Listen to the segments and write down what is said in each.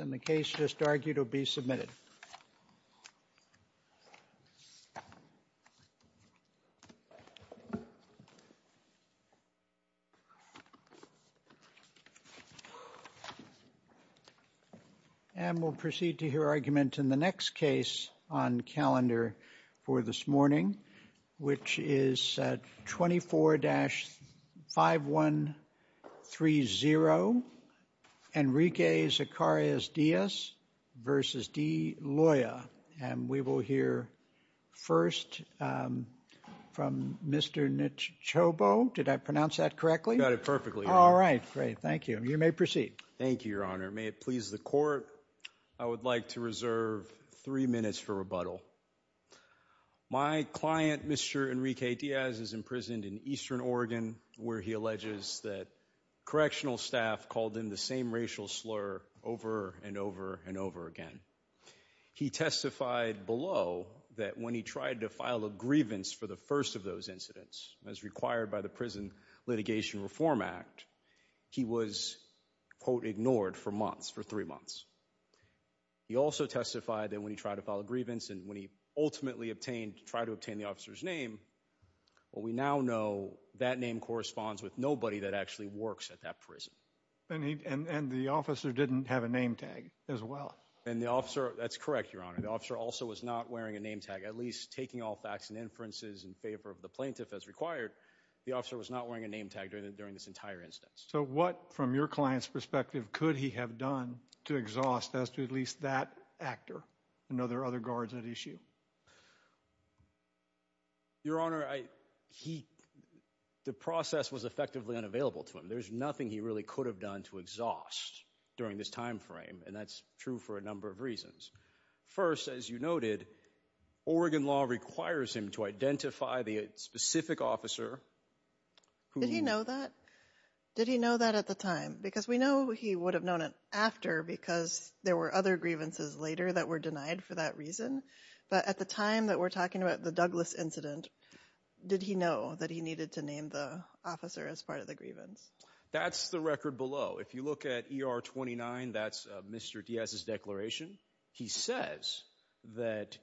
and the case just argued will be submitted. And we'll proceed to hear argument in the next case on calendar for this morning, which is 24-5130, Enrique Zacarias Diaz v. D. Loya. And we will hear first from Mr. Nichobo. Did I pronounce that correctly? You got it perfectly. All right. Great. Thank you. You may proceed. Thank you, Your Honor. May it please the court. I would like to reserve three minutes for rebuttal. So, my client, Mr. Enrique Diaz, is imprisoned in Eastern Oregon, where he alleges that correctional staff called him the same racial slur over and over and over again. He testified below that when he tried to file a grievance for the first of those incidents, as required by the Prison Litigation Reform Act, he was, quote, ignored for months, for three months. He also testified that when he tried to file a grievance and when he ultimately obtained, tried to obtain the officer's name, well, we now know that name corresponds with nobody that actually works at that prison. And the officer didn't have a name tag as well. And the officer, that's correct, Your Honor. The officer also was not wearing a name tag, at least taking all facts and inferences in favor of the plaintiff as required, the officer was not wearing a name tag during this entire instance. So what, from your client's perspective, could he have done to exhaust as to at least that actor? I know there are other guards at issue. Your Honor, he, the process was effectively unavailable to him. There's nothing he really could have done to exhaust during this time frame, and that's true for a number of reasons. First, as you noted, Oregon law requires him to identify the specific officer who— Did he know that? Did he know that at the time? Because we know he would have known it after because there were other grievances later that were denied for that reason, but at the time that we're talking about the Douglas incident, did he know that he needed to name the officer as part of the grievance? That's the record below. If you look at ER 29, that's Mr. Diaz's declaration. He says that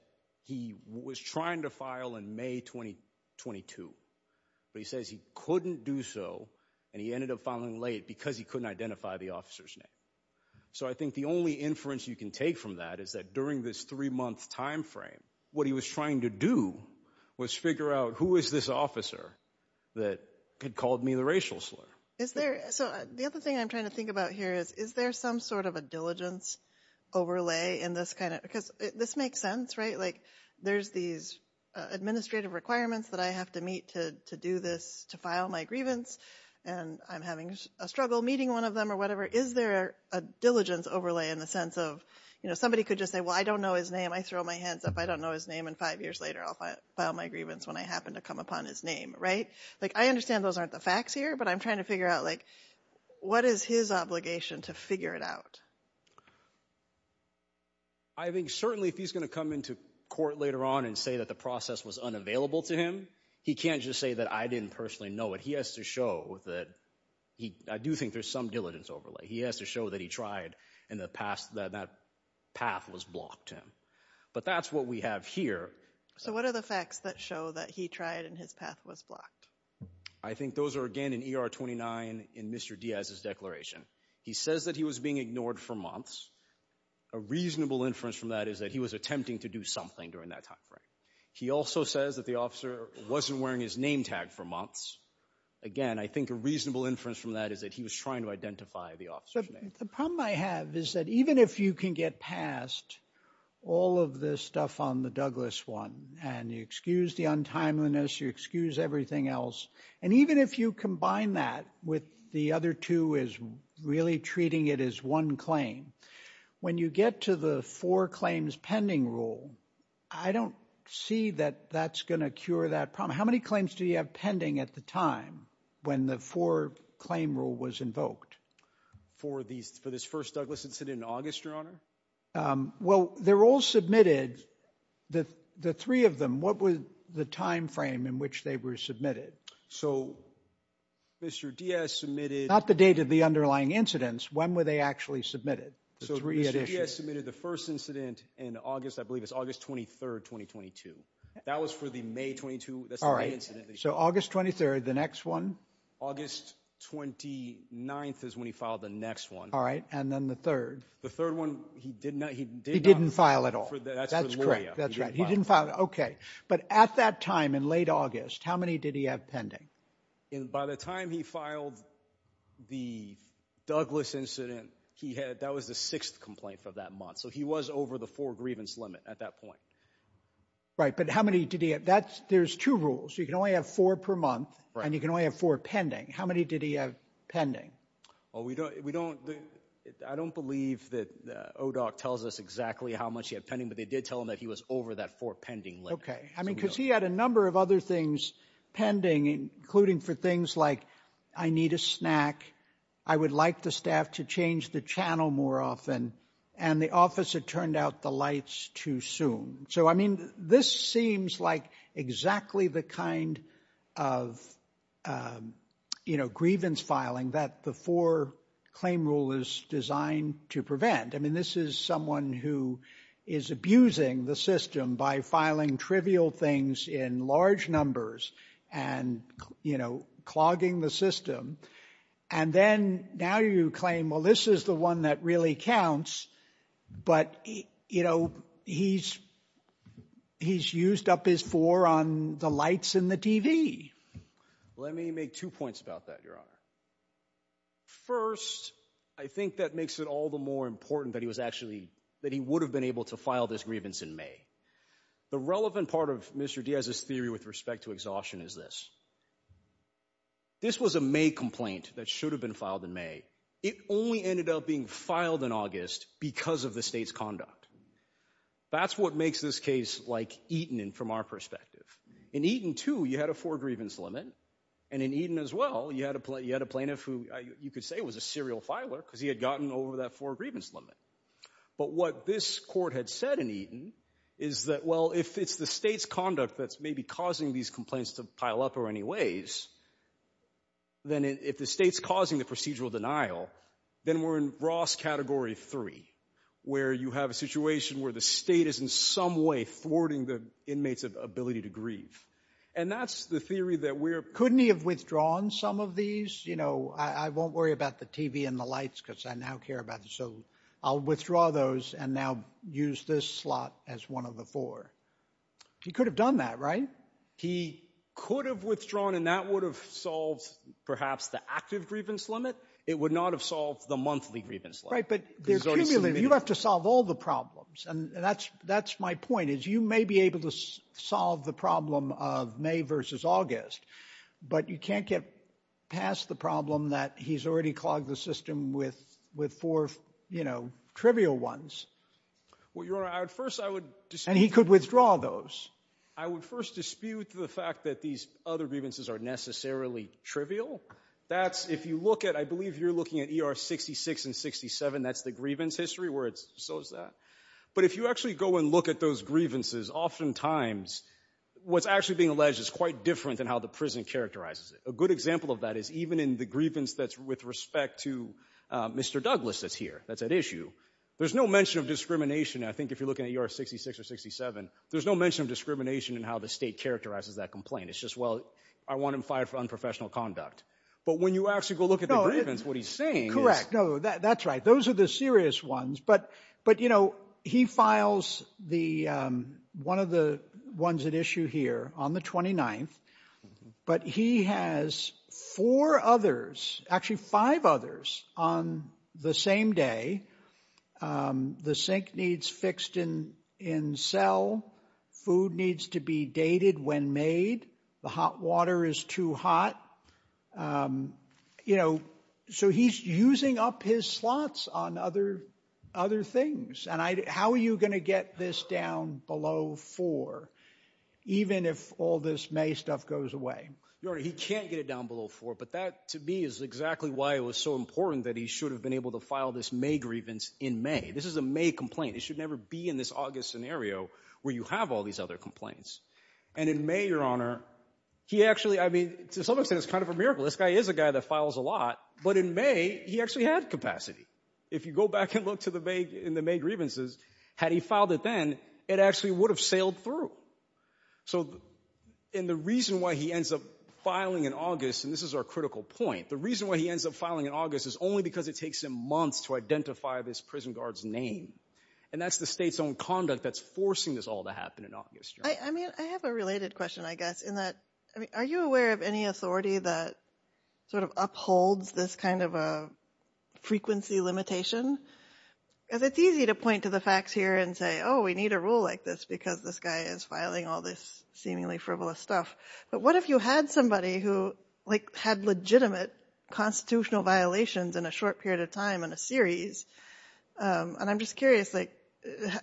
he was trying to file in May 2022, but he says he couldn't do so and he ended up filing late because he couldn't identify the officer's name. So I think the only inference you can take from that is that during this three-month time frame, what he was trying to do was figure out, who is this officer that had called me the racial slur? Is there, so the other thing I'm trying to think about here is, is there some sort of diligence overlay in this kind of, because this makes sense, right? There's these administrative requirements that I have to meet to do this, to file my grievance, and I'm having a struggle meeting one of them or whatever. Is there a diligence overlay in the sense of, somebody could just say, well, I don't know his name. I throw my hands up, I don't know his name, and five years later, I'll file my grievance when I happen to come upon his name, right? I understand those aren't the facts here, but I'm trying to figure out, what is his obligation to figure it out? I think certainly if he's going to come into court later on and say that the process was unavailable to him, he can't just say that I didn't personally know it. He has to show that he, I do think there's some diligence overlay. He has to show that he tried in the past, that that path was blocked him. But that's what we have here. So what are the facts that show that he tried and his path was blocked? I think those are, again, in ER 29 in Mr. Diaz's declaration. He says that he was being ignored for months. A reasonable inference from that is that he was attempting to do something during that time frame. He also says that the officer wasn't wearing his name tag for months. Again, I think a reasonable inference from that is that he was trying to identify the officer's name. The problem I have is that even if you can get past all of the stuff on the Douglas one, and you excuse the untimeliness, you excuse everything else, and even if you combine that with the other two as really treating it as one claim, when you get to the four claims pending rule, I don't see that that's going to cure that problem. How many claims do you have pending at the time when the four claim rule was invoked? For this first Douglas incident in August, Your Honor? Well, they're all submitted, the three of them. What was the time frame in which they were submitted? So Mr. Diaz submitted- Not the date of the underlying incidents. When were they actually submitted? So Mr. Diaz submitted the first incident in August, I believe it's August 23rd, 2022. That was for the May 22, that's the day incident. So August 23rd, the next one? August 29th is when he filed the next one. All right. And then the third? The third one, he did not- He didn't file at all. That's correct. That's right. He didn't file. Okay. But at that time in late August, how many did he have pending? By the time he filed the Douglas incident, that was the sixth complaint for that month. So he was over the four grievance limit at that point. Right. But how many did he have? There's two rules. You can only have four per month, and you can only have four pending. How many did he have pending? I don't believe that ODOC tells us exactly how much he had pending, but they did tell him that he was over that four pending limit. Okay. I mean, because he had a number of other things pending, including for things like, I need a snack, I would like the staff to change the channel more often, and the office had turned out the lights too soon. So I mean, this seems like exactly the kind of grievance filing that the four claim rule is designed to prevent. I mean, this is someone who is abusing the system by filing trivial things in large numbers and clogging the system. And then now you claim, well, this is the one that really counts, but he's used up his four on the lights and the TV. Let me make two points about that, Your Honor. First, I think that makes it all the more important that he was actually, that he would have been able to file this grievance in May. The relevant part of Mr. Diaz's theory with respect to exhaustion is this. This was a May complaint that should have been filed in May. It only ended up being filed in August because of the state's conduct. That's what makes this case like Eaton from our perspective. In Eaton too, you had a four grievance limit, and in Eaton as well, you had a plaintiff who you could say was a serial filer because he had gotten over that four grievance limit. But what this court had said in Eaton is that, well, if it's the state's conduct that's maybe causing these complaints to pile up in any ways, then if the state's causing the procedural denial, then we're in Ross Category 3, where you have a situation where the state is in some way thwarting the inmate's ability to grieve. And that's the theory that we're— Couldn't he have withdrawn some of these? You know, I won't worry about the TV and the lights because I now care about the—so I'll withdraw those and now use this slot as one of the four. He could have done that, right? He could have withdrawn, and that would have solved perhaps the active grievance limit. It would not have solved the monthly grievance limit. Right, but they're cumulative. You have to solve all the problems. And that's my point, is you may be able to solve the problem of May versus August, but you can't get past the problem that he's already clogged the system with four, you know, trivial ones. Well, Your Honor, at first I would— And he could withdraw those. I would first dispute the fact that these other grievances are necessarily trivial. That's—if you look at—I believe you're looking at ER 66 and 67. That's the grievance history where it's—so is that. But if you actually go and look at those grievances, oftentimes what's actually being alleged is quite different than how the prison characterizes it. A good example of that is even in the grievance that's with respect to Mr. Douglas that's here, that's at issue, there's no mention of discrimination, I think, if you're looking at ER 66 or 67, there's no mention of discrimination in how the state characterizes that complaint. It's just, well, I want him fired for unprofessional conduct. But when you actually go look at the grievance, what he's saying is— No, that's right. Those are the serious ones. But, you know, he files the—one of the ones at issue here on the 29th. But he has four others, actually five others, on the same day. The sink needs fixed in cell. Food needs to be dated when made. The hot water is too hot. You know, so he's using up his slots on other things. And how are you going to get this down below four? Even if all this May stuff goes away. Your Honor, he can't get it down below four. But that, to me, is exactly why it was so important that he should have been able to file this May grievance in May. This is a May complaint. It should never be in this August scenario where you have all these other complaints. And in May, Your Honor, he actually—I mean, to some extent, it's kind of a miracle. This guy is a guy that files a lot. But in May, he actually had capacity. If you go back and look to the May grievances, had he filed it then, it actually would have sailed through. So—and the reason why he ends up filing in August, and this is our critical point, the reason why he ends up filing in August is only because it takes him months to identify this prison guard's name. And that's the state's own conduct that's forcing this all to happen in August, Your Honor. I mean, I have a related question, I guess, in that, I mean, are you aware of any authority that sort of upholds this kind of a frequency limitation? Because it's easy to point to the facts here and say, oh, we need a rule like this because this guy is filing all this seemingly frivolous stuff. But what if you had somebody who, like, had legitimate constitutional violations in a short period of time in a series? And I'm just curious, like,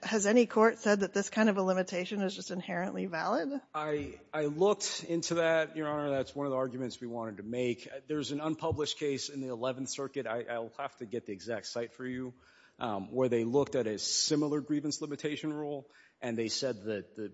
has any court said that this kind of a limitation is just inherently valid? I looked into that, Your Honor. That's one of the arguments we wanted to make. There's an unpublished case in the Eleventh Circuit—I'll have to get the exact site for you—where they looked at a similar grievance limitation rule, and they said that the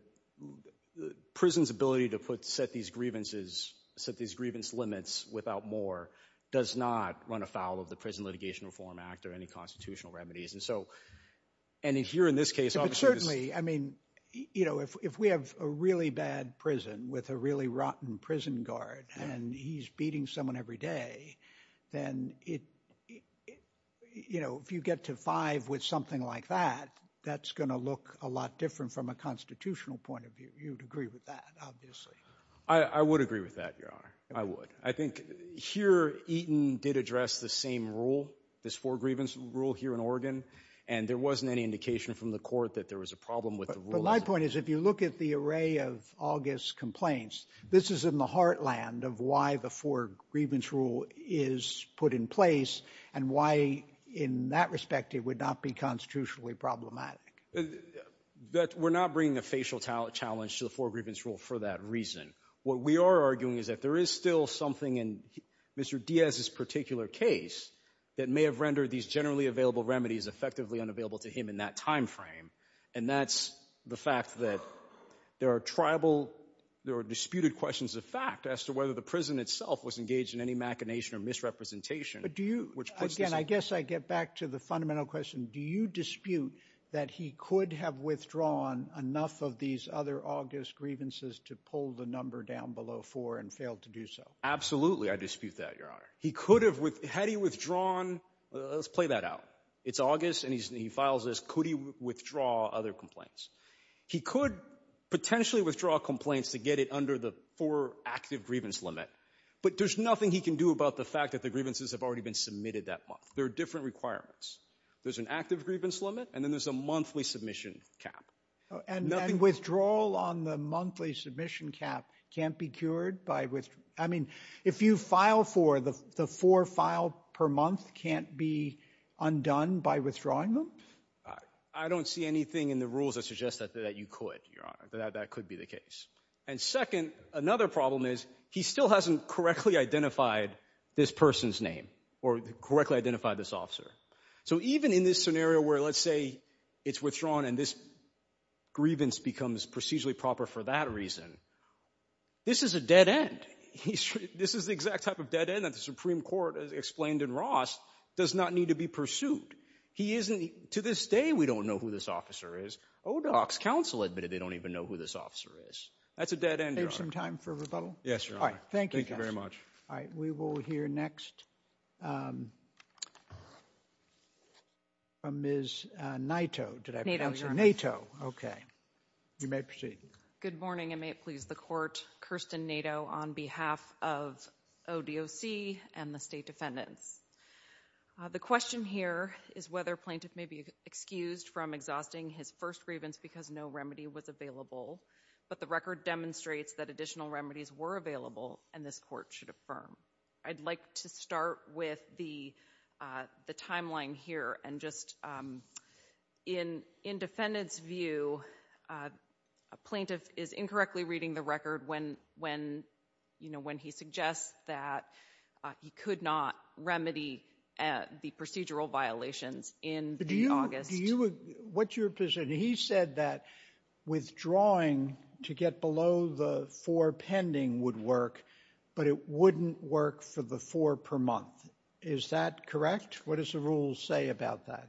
prison's ability to set these grievance limits without more does not run afoul of the Prison Litigation Reform Act or any constitutional remedies. And so—and here, in this case, obviously— But certainly, I mean, you know, if we have a really bad prison with a really rotten prison guard, and he's beating someone every day, then it—you know, if you get to five with something like that, that's going to look a lot different from a constitutional point of view. You'd agree with that, obviously. I would agree with that, Your Honor. I would. I think here Eaton did address the same rule, this four grievance rule here in Oregon, and there wasn't any indication from the court that there was a problem with the rules. My point is, if you look at the array of August's complaints, this is in the heartland of why the four grievance rule is put in place and why, in that respect, it would not be constitutionally problematic. We're not bringing a facial challenge to the four grievance rule for that reason. What we are arguing is that there is still something in Mr. Diaz's particular case that may have rendered these generally available remedies effectively unavailable to him in that time frame, and that's the fact that there are tribal—there are disputed questions of fact as to whether the prison itself was engaged in any machination or misrepresentation, which puts this— But do you—again, I guess I get back to the fundamental question. Do you dispute that he could have withdrawn enough of these other August grievances to pull the number down below four and failed to do so? Absolutely, I dispute that, Your Honor. He could have—had he withdrawn—let's play that out. It's August, and he files this. Could he withdraw other complaints? He could potentially withdraw complaints to get it under the four active grievance limit, but there's nothing he can do about the fact that the grievances have already been submitted that month. There are different requirements. There's an active grievance limit, and then there's a monthly submission cap. And withdrawal on the monthly submission cap can't be cured by—I mean, if you file four, the four filed per month can't be undone by withdrawing them? I don't see anything in the rules that suggest that you could, Your Honor, that that could be the case. And second, another problem is he still hasn't correctly identified this person's name or correctly identified this officer. So even in this scenario where, let's say, it's withdrawn and this grievance becomes procedurally proper for that reason, this is a dead end. This is the exact type of dead end that the Supreme Court, as explained in Ross, does not need to be pursued. He isn't—to this day, we don't know who this officer is. ODOC's counsel admitted they don't even know who this officer is. That's a dead end, Your Honor. Do you have some time for rebuttal? Yes, Your Honor. All right. Thank you, counsel. Thank you very much. All right. We will hear next from Ms. Naito. Did I pronounce her? Naito, Your Honor. Naito. Okay. You may proceed. Good morning, and may it please the Court, Kirsten Naito on behalf of ODOC and the State Defendants. The question here is whether a plaintiff may be excused from exhausting his first grievance because no remedy was available, but the record demonstrates that additional remedies were available and this Court should affirm. I'd like to start with the timeline here and just in defendant's view, a plaintiff is incorrectly reading the record when he suggests that he could not remedy the procedural violations in August. What's your position? And he said that withdrawing to get below the four pending would work, but it wouldn't work for the four per month. Is that correct? What does the rules say about that?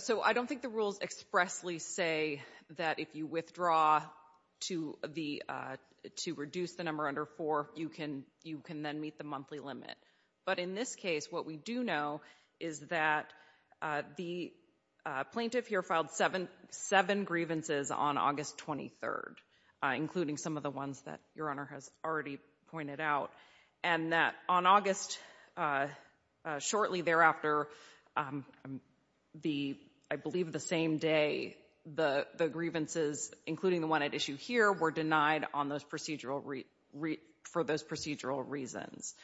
So I don't think the rules expressly say that if you withdraw to reduce the number under four, you can then meet the monthly limit. But in this case, what we do know is that the plaintiff here filed seven grievances on August 23rd, including some of the ones that your Honor has already pointed out, and that on August, shortly thereafter, I believe the same day, the grievances, including the issue here, were denied for those procedural reasons.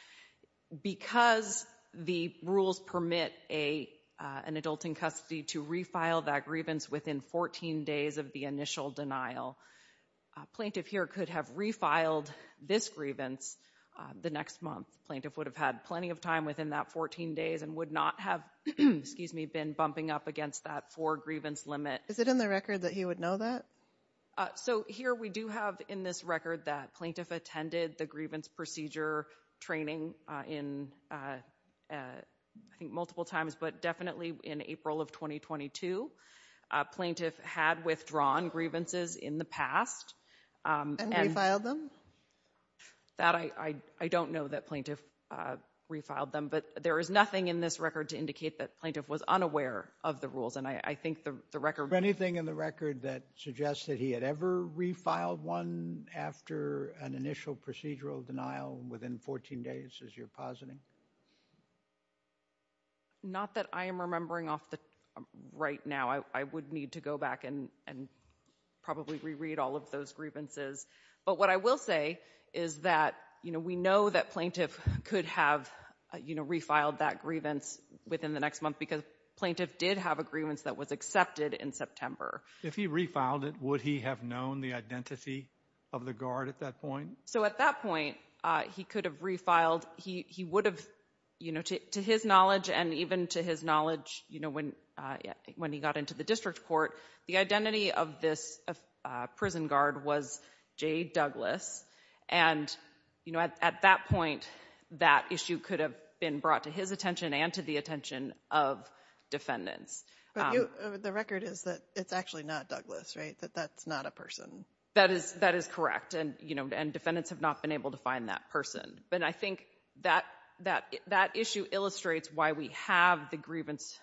Because the rules permit an adult in custody to refile that grievance within 14 days of the initial denial, a plaintiff here could have refiled this grievance the next month. Plaintiff would have had plenty of time within that 14 days and would not have been bumping up against that four grievance limit. Is it in the record that he would know that? So here we do have in this record that plaintiff attended the grievance procedure training in, I think, multiple times, but definitely in April of 2022. Plaintiff had withdrawn grievances in the past. And refiled them? That I don't know that plaintiff refiled them. But there is nothing in this record to indicate that plaintiff was unaware of the rules. And I think the record— Anything in the record that suggests that he had ever refiled one after an initial procedural denial within 14 days, as you're positing? Not that I am remembering off the—right now. I would need to go back and probably reread all of those grievances. But what I will say is that, you know, we know that plaintiff could have, you know, refiled that grievance within the next month because plaintiff did have a grievance that was accepted in September. If he refiled it, would he have known the identity of the guard at that point? So at that point, he could have refiled—he would have, you know, to his knowledge and even to his knowledge, you know, when he got into the district court, the identity of this prison guard was J. Douglas. And you know, at that point, that issue could have been brought to his attention and to the attention of defendants. But you—the record is that it's actually not Douglas, right? That that's not a person? That is—that is correct. And, you know, and defendants have not been able to find that person. But I think that issue illustrates why we have the grievance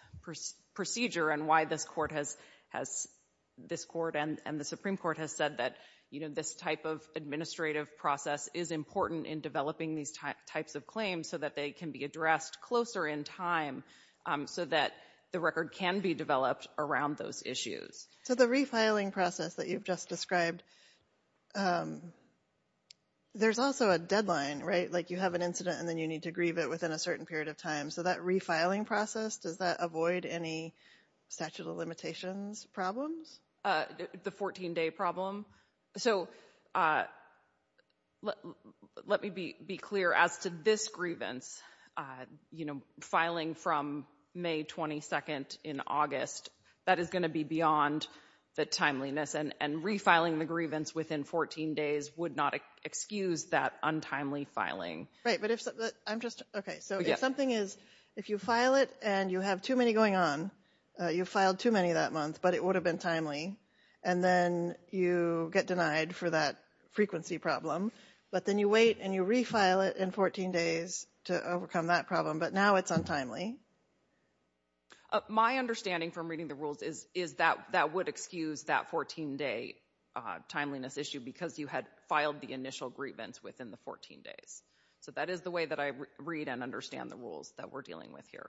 procedure and why this court has—this court and the Supreme Court has said that, you know, this type of administrative process is important in developing these types of claims so that they can be addressed closer in time so that the record can be developed around those issues. So the refiling process that you've just described, there's also a deadline, right? Like you have an incident and then you need to grieve it within a certain period of time. So that refiling process, does that avoid any statute of limitations problems? The 14-day problem? So let me be clear. As to this grievance, you know, filing from May 22nd in August, that is going to be beyond the timeliness and refiling the grievance within 14 days would not excuse that untimely filing. Right. But if—I'm just—okay. So if something is—if you file it and you have too many going on, you filed too many that month, but it would have been timely, and then you get denied for that frequency problem, but then you wait and you refile it in 14 days to overcome that problem, but now it's untimely. My understanding from reading the rules is that that would excuse that 14-day timeliness issue because you had filed the initial grievance within the 14 days. So that is the way that I read and understand the rules that we're dealing with here.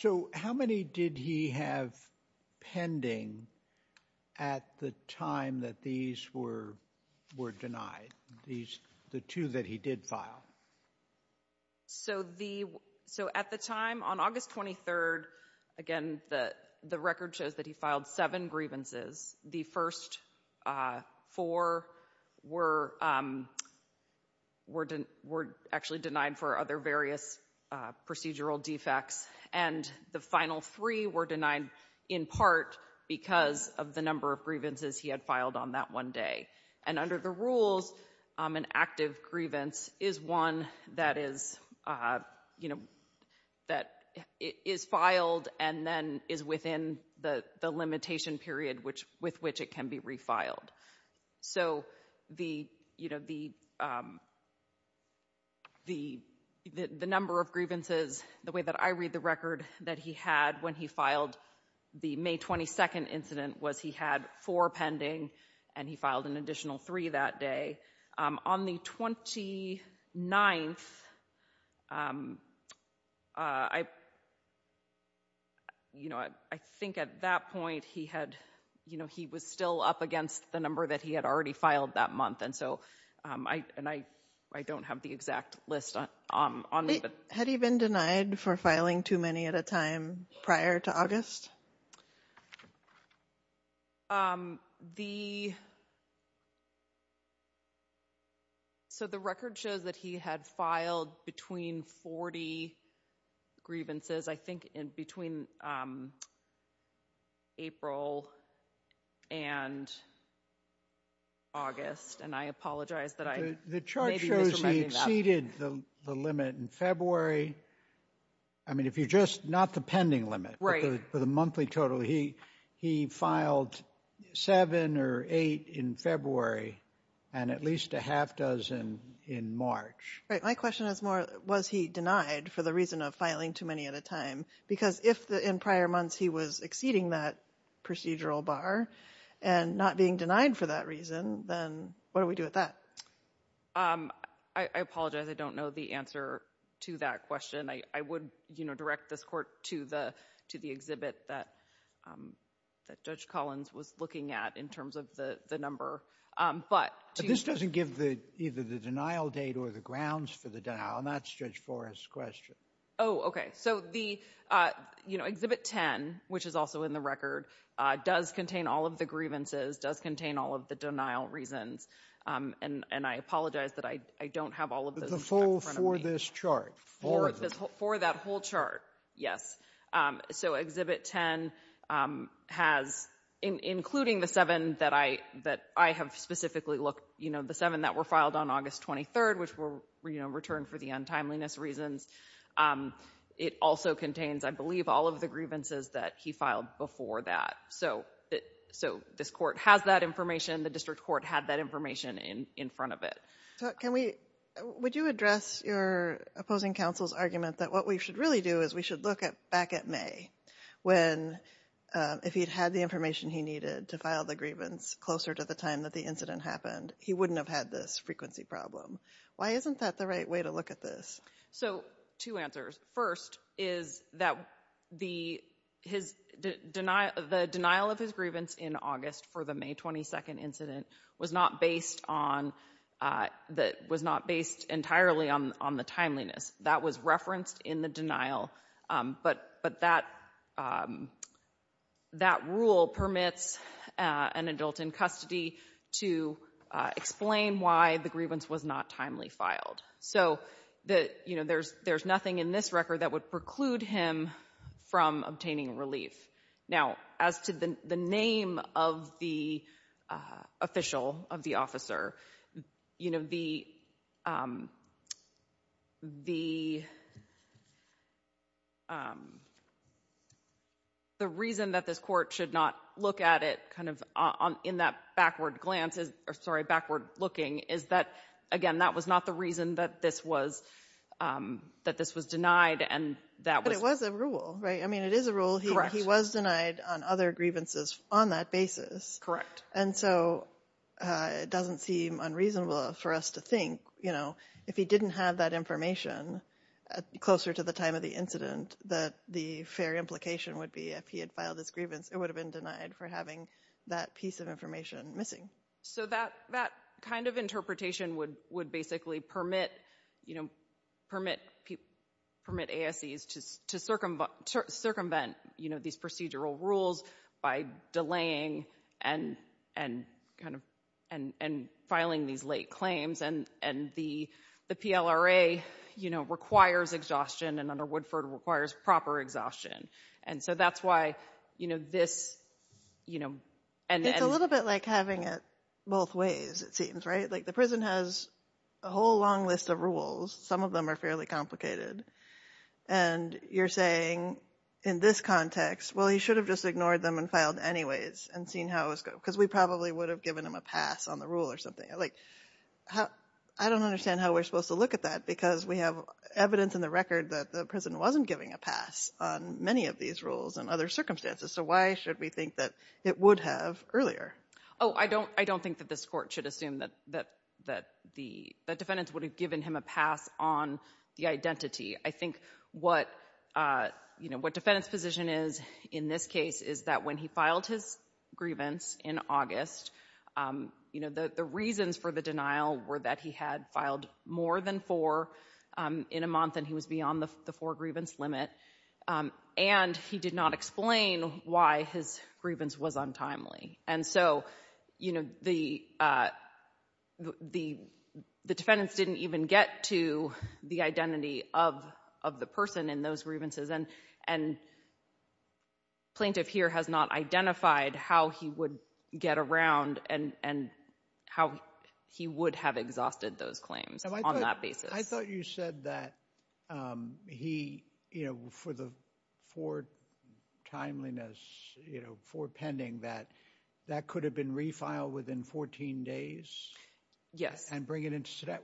So how many did he have pending at the time that these were denied, these—the two that he did file? So the—so at the time, on August 23rd, again, the record shows that he filed seven grievances. The first four were actually denied for other various procedural defects, and the final three were denied in part because of the number of grievances he had filed on that one day. And under the rules, an active grievance is one that is, you know, that is filed and then is within the limitation period with which it can be refiled. So the, you know, the number of grievances, the way that I read the record that he had when he filed the May 22nd incident was he had four pending, and he filed an additional three that day. On the 29th, you know, I think at that point he had, you know, he was still up against the number that he had already filed that month, and so—and I don't have the exact list on me, but— Had he been denied for filing too many at a time prior to August? The—so the record shows that he had filed between 40 grievances, I think in between April and August, and I apologize that I may be misremembering that. The chart shows he exceeded the limit in February. I mean, if you just—not the pending limit. Right. But the monthly total, he filed seven or eight in February, and at least a half dozen in March. Right. My question is more, was he denied for the reason of filing too many at a time? Because if in prior months he was exceeding that procedural bar and not being denied for that reason, then what do we do with that? I apologize. I don't know the answer to that question. I would, you know, direct this Court to the—to the exhibit that Judge Collins was looking at in terms of the number. But to— But this doesn't give the—either the denial date or the grounds for the denial, and that's Judge Forrest's question. Oh, okay. So the, you know, Exhibit 10, which is also in the record, does contain all of the grievances, does contain all of the denial reasons, and I apologize that I don't have all of those in front of me. But the full for this chart? For that whole chart, yes. So Exhibit 10 has, including the seven that I, that I have specifically looked, you know, the seven that were filed on August 23rd, which were, you know, returned for the untimeliness reasons, it also contains, I believe, all of the grievances that he filed before that. So this Court has that information. The District Court had that information in front of it. Can we—would you address your opposing counsel's argument that what we should really do is we should look back at May, when, if he'd had the information he needed to file the grievance closer to the time that the incident happened, he wouldn't have had this frequency problem. Why isn't that the right way to look at this? So two answers. First is that the, his denial, the denial of his grievance in August for the May 22nd incident was not based on, was not based entirely on the timeliness. That was referenced in the denial, but that rule permits an adult in custody to explain why the grievance was not timely filed. So that, you know, there's nothing in this record that would preclude him from obtaining relief. Now, as to the name of the official, of the officer, you know, the, the reason that this Court should not look at it kind of in that backward glance, or sorry, backward looking, is that, again, that was not the reason that this was, that this was denied and that was— But it was a rule, right? I mean, it is a rule. Correct. He was denied on other grievances on that basis. And so it doesn't seem unreasonable for us to think, you know, if he didn't have that information closer to the time of the incident, that the fair implication would be if he had filed his grievance, it would have been denied for having that piece of information missing. So that, that kind of interpretation would, would basically permit, you know, permit ASCs to circumvent, you know, these procedural rules by delaying and, and kind of, and, and filing these late claims and, and the, the PLRA, you know, requires exhaustion and under Woodford requires proper exhaustion. And so that's why, you know, this, you know, and— It's a bit like having it both ways, it seems, right? Like the prison has a whole long list of rules. Some of them are fairly complicated. And you're saying in this context, well, he should have just ignored them and filed anyways and seen how it was going, because we probably would have given him a pass on the rule or something. Like, how, I don't understand how we're supposed to look at that, because we have evidence in the record that the prison wasn't giving a pass on many of these rules and other circumstances. So why should we think that it would have earlier? Oh, I don't, I don't think that this court should assume that, that, that the, that defendants would have given him a pass on the identity. I think what, you know, what defendant's position is in this case is that when he filed his grievance in August, you know, the, the reasons for the denial were that he had filed more than four in a month and he was beyond the four grievance limit. And he did not explain why his grievance was untimely. And so, you know, the, the, the defendants didn't even get to the identity of, of the person in those grievances and, and plaintiff here has not identified how he would get around and, and how he would have exhausted those claims on that basis. I thought you said that, um, he, you know, for the four timeliness, you know, four pending that that could have been refiled within 14 days. Yes. And bring it into today.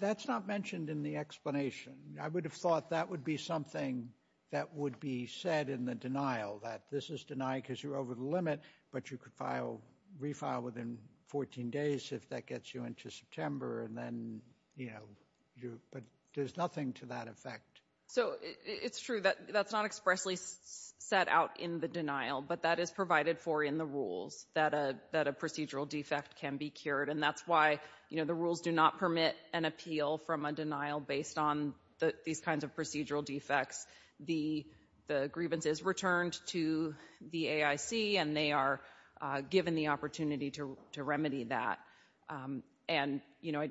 That's not mentioned in the explanation. I would have thought that would be something that would be said in the denial that this is denied because you're over the limit, but you could file, refile within 14 days if that gets you into September and then, you know, you're, but there's nothing to that effect. So it's true that that's not expressly set out in the denial, but that is provided for in the rules that a, that a procedural defect can be cured. And that's why, you know, the rules do not permit an appeal from a denial based on the, these kinds of procedural defects. The, the grievance is returned to the AIC and they are given the opportunity to, to remedy that. Um, and, you know,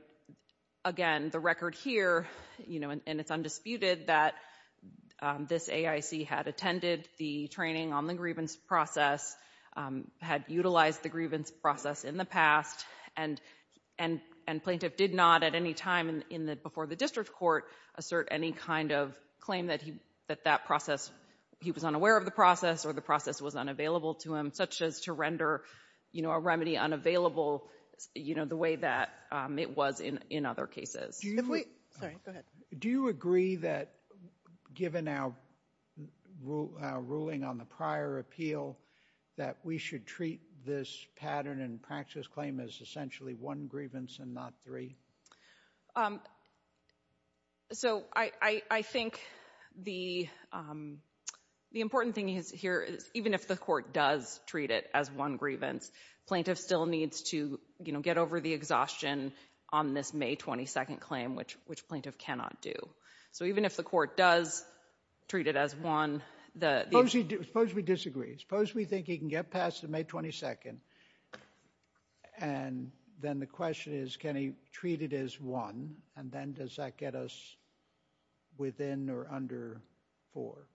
again, the record here, you know, and, and it's undisputed that, um, this AIC had attended the training on the grievance process, um, had utilized the grievance process in the past and, and, and plaintiff did not at any time in the, before the district court assert any kind of claim that he, that that process, he was unaware of the process or the process was unavailable to him, such as to render, you know, a remedy unavailable, you know, the way that, um, it was in, in other cases. If we, sorry, go ahead. Do you agree that given our ruling on the prior appeal, that we should treat this pattern and practice claim as essentially one grievance and not three? Um, so I, I, I think the, um, the important thing is here is even if the court does treat it as one grievance, plaintiff still needs to, you know, get over the exhaustion on this May 22nd claim, which, which plaintiff cannot do. So even if the court does treat it as one, the, the... Suppose he, suppose we disagree. Suppose we think he can get past the May 22nd and then the question is, can he treat it as one? And then does that get us within or under four?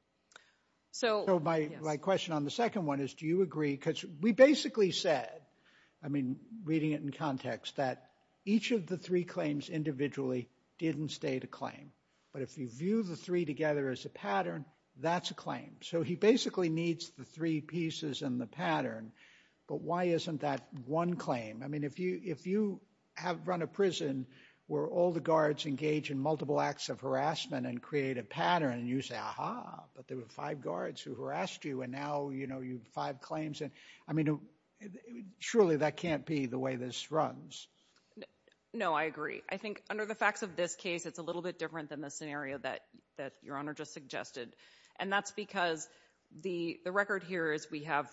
So my, my question on the second one is, do you agree? Because we basically said, I mean, reading it in context, that each of the three claims individually didn't state a claim, but if you view the three together as a pattern, that's a claim. So he basically needs the three pieces in the pattern, but why isn't that one claim? I mean, if you, if you have run a prison where all the guards engage in multiple acts of harassment and create a pattern and you say, aha, but there were five guards who harassed you and now, you know, you've five claims and I mean, surely that can't be the way this runs. No, I agree. I think under the facts of this case, it's a little bit different than the scenario that, that your honor just suggested. And that's because the, the record here is we have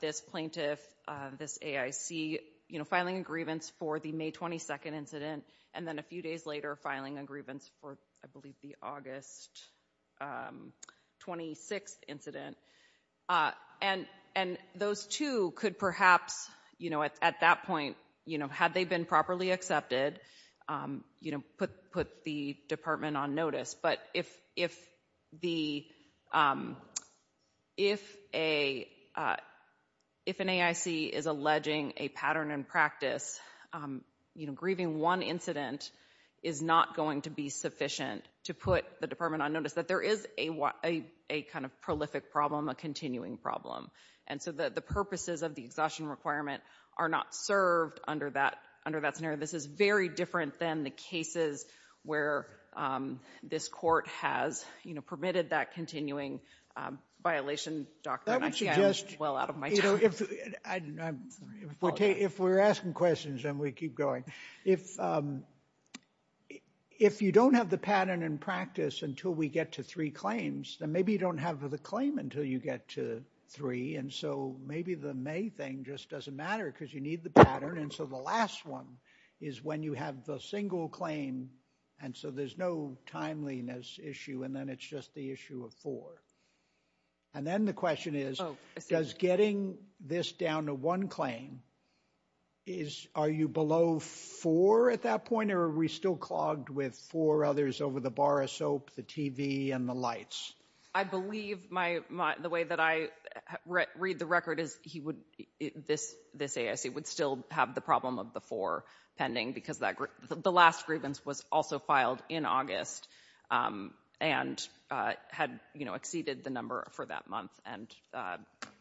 this plaintiff, this AIC, you know, filing a grievance for the May 22nd incident. And then a few days later filing a grievance for, I believe the August 26th incident and, and those two could perhaps, you know, at that point, you know, had they been properly accepted you know, put, put the department on notice. But if, if the, if a, if an AIC is alleging a pattern in practice, you know, grieving one incident is not going to be sufficient to put the department on notice that there is a, a kind of prolific problem, a continuing problem. And so the, the purposes of the exhaustion requirement are not served under that, under that scenario. This is very different than the cases where this court has, you know, permitted that continuing violation. Doctor, I can't, I'm well out of my time. That would suggest, you know, if, if we're asking questions and we keep going, if, if you don't have the pattern in practice until we get to three claims, then maybe you don't have the claim until you get to three. And so maybe the May thing just doesn't matter because you need the pattern. And so the last one is when you have the single claim and so there's no timeliness issue and then it's just the issue of four. And then the question is, does getting this down to one claim is, are you below four at that point? Or are we still clogged with four others over the bar of soap, the TV and the lights? I believe my, my, the way that I read the record is he would, this, this AIC would still have the problem of the four pending because that, the last grievance was also filed in August and had, you know, exceeded the number for that month and,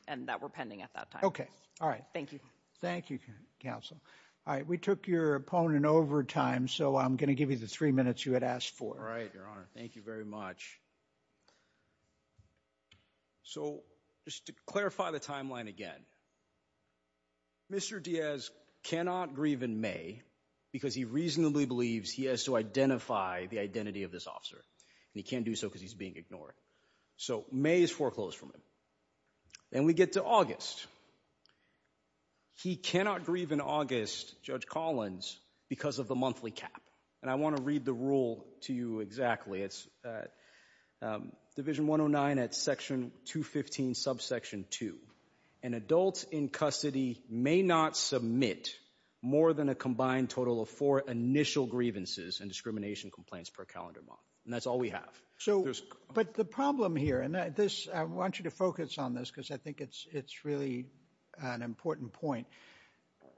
and that were pending at that time. Okay. All right. Thank you. Thank you, counsel. All right. We took your opponent over time, so I'm going to give you the three minutes you had asked for. All right, Your Honor. Thank you very much. So, just to clarify the timeline again, Mr. Diaz cannot grieve in May because he reasonably believes he has to identify the identity of this officer and he can't do so because he's being ignored. So May is foreclosed from him. Then we get to August. He cannot grieve in August, Judge Collins, because of the monthly cap. And I want to read the rule to you exactly. It's Division 109 at Section 215, Subsection 2, an adult in custody may not submit more than a combined total of four initial grievances and discrimination complaints per calendar month. And that's all we have. So, but the problem here, and this, I want you to focus on this because I think it's, it's really an important point.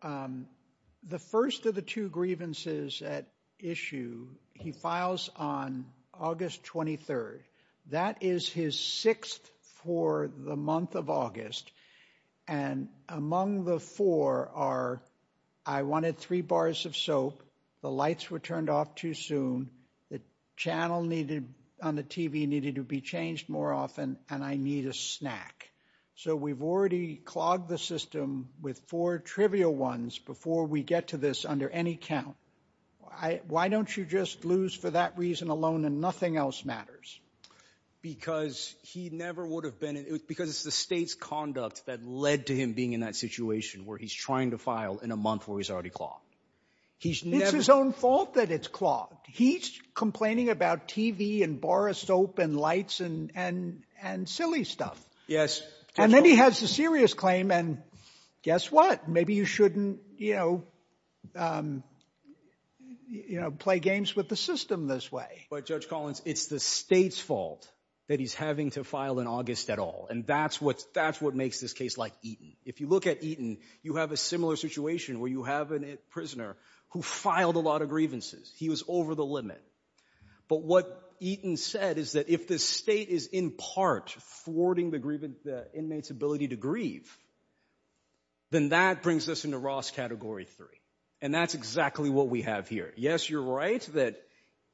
The first of the two grievances at issue, he files on August 23rd. That is his sixth for the month of August. And among the four are, I wanted three bars of soap, the lights were turned off too soon, the channel needed, on the TV needed to be changed more often, and I need a snack. So we've already clogged the system with four trivial ones before we get to this under any count. I, why don't you just lose for that reason alone and nothing else matters? Because he never would have been, because it's the state's conduct that led to him being in that situation where he's trying to file in a month where he's already clogged. He's never- It's his own fault that it's clogged. He's complaining about TV and bar of soap and lights and, and, and silly stuff. And then he has a serious claim and guess what? Maybe you shouldn't, you know, you know, play games with the system this way. But Judge Collins, it's the state's fault that he's having to file in August at all. And that's what, that's what makes this case like Eaton. If you look at Eaton, you have a similar situation where you have a prisoner who filed a lot of grievances. He was over the limit. But what Eaton said is that if the state is in part thwarting the grievance, the inmate's ability to grieve, then that brings us into Ross Category 3. And that's exactly what we have here. Yes, you're right that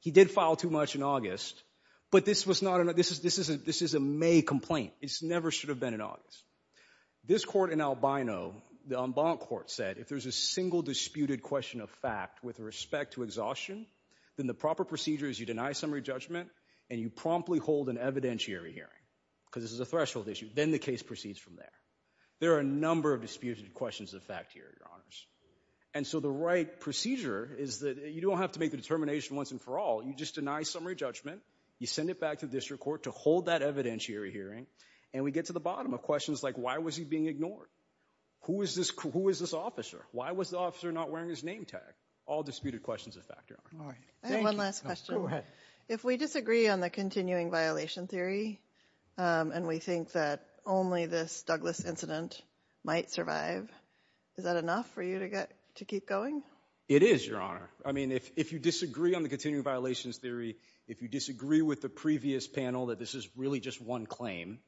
he did file too much in August, but this was not an, this is, this isn't, this is a May complaint. It's never should have been in August. This court in Albino, the en banc court said, if there's a single disputed question of fact with respect to exhaustion, then the proper procedure is you deny summary judgment and you promptly hold an evidentiary hearing because this is a threshold issue. Then the case proceeds from there. There are a number of disputed questions of fact here, your honors. And so the right procedure is that you don't have to make a determination once and for all. You just deny summary judgment. You send it back to district court to hold that evidentiary hearing. And we get to the bottom of questions like, why was he being ignored? Who is this? Who is this officer? Why was the officer not wearing his name tag? All disputed questions of fact, your honor. I have one last question. If we disagree on the continuing violation theory, and we think that only this Douglas incident might survive, is that enough for you to get, to keep going? It is, your honor. I mean, if, if you disagree on the continuing violations theory, if you disagree with the previous panel that this is really just one claim,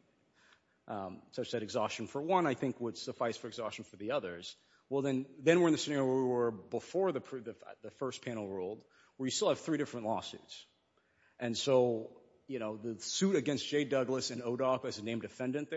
such that exhaustion for one, I think would suffice for exhaustion for the others, well then, then we're in the scenario where we were before the first panel ruled, where you still have three different lawsuits. And so, you know, the suit against J. Douglas and ODOC as a named defendant there.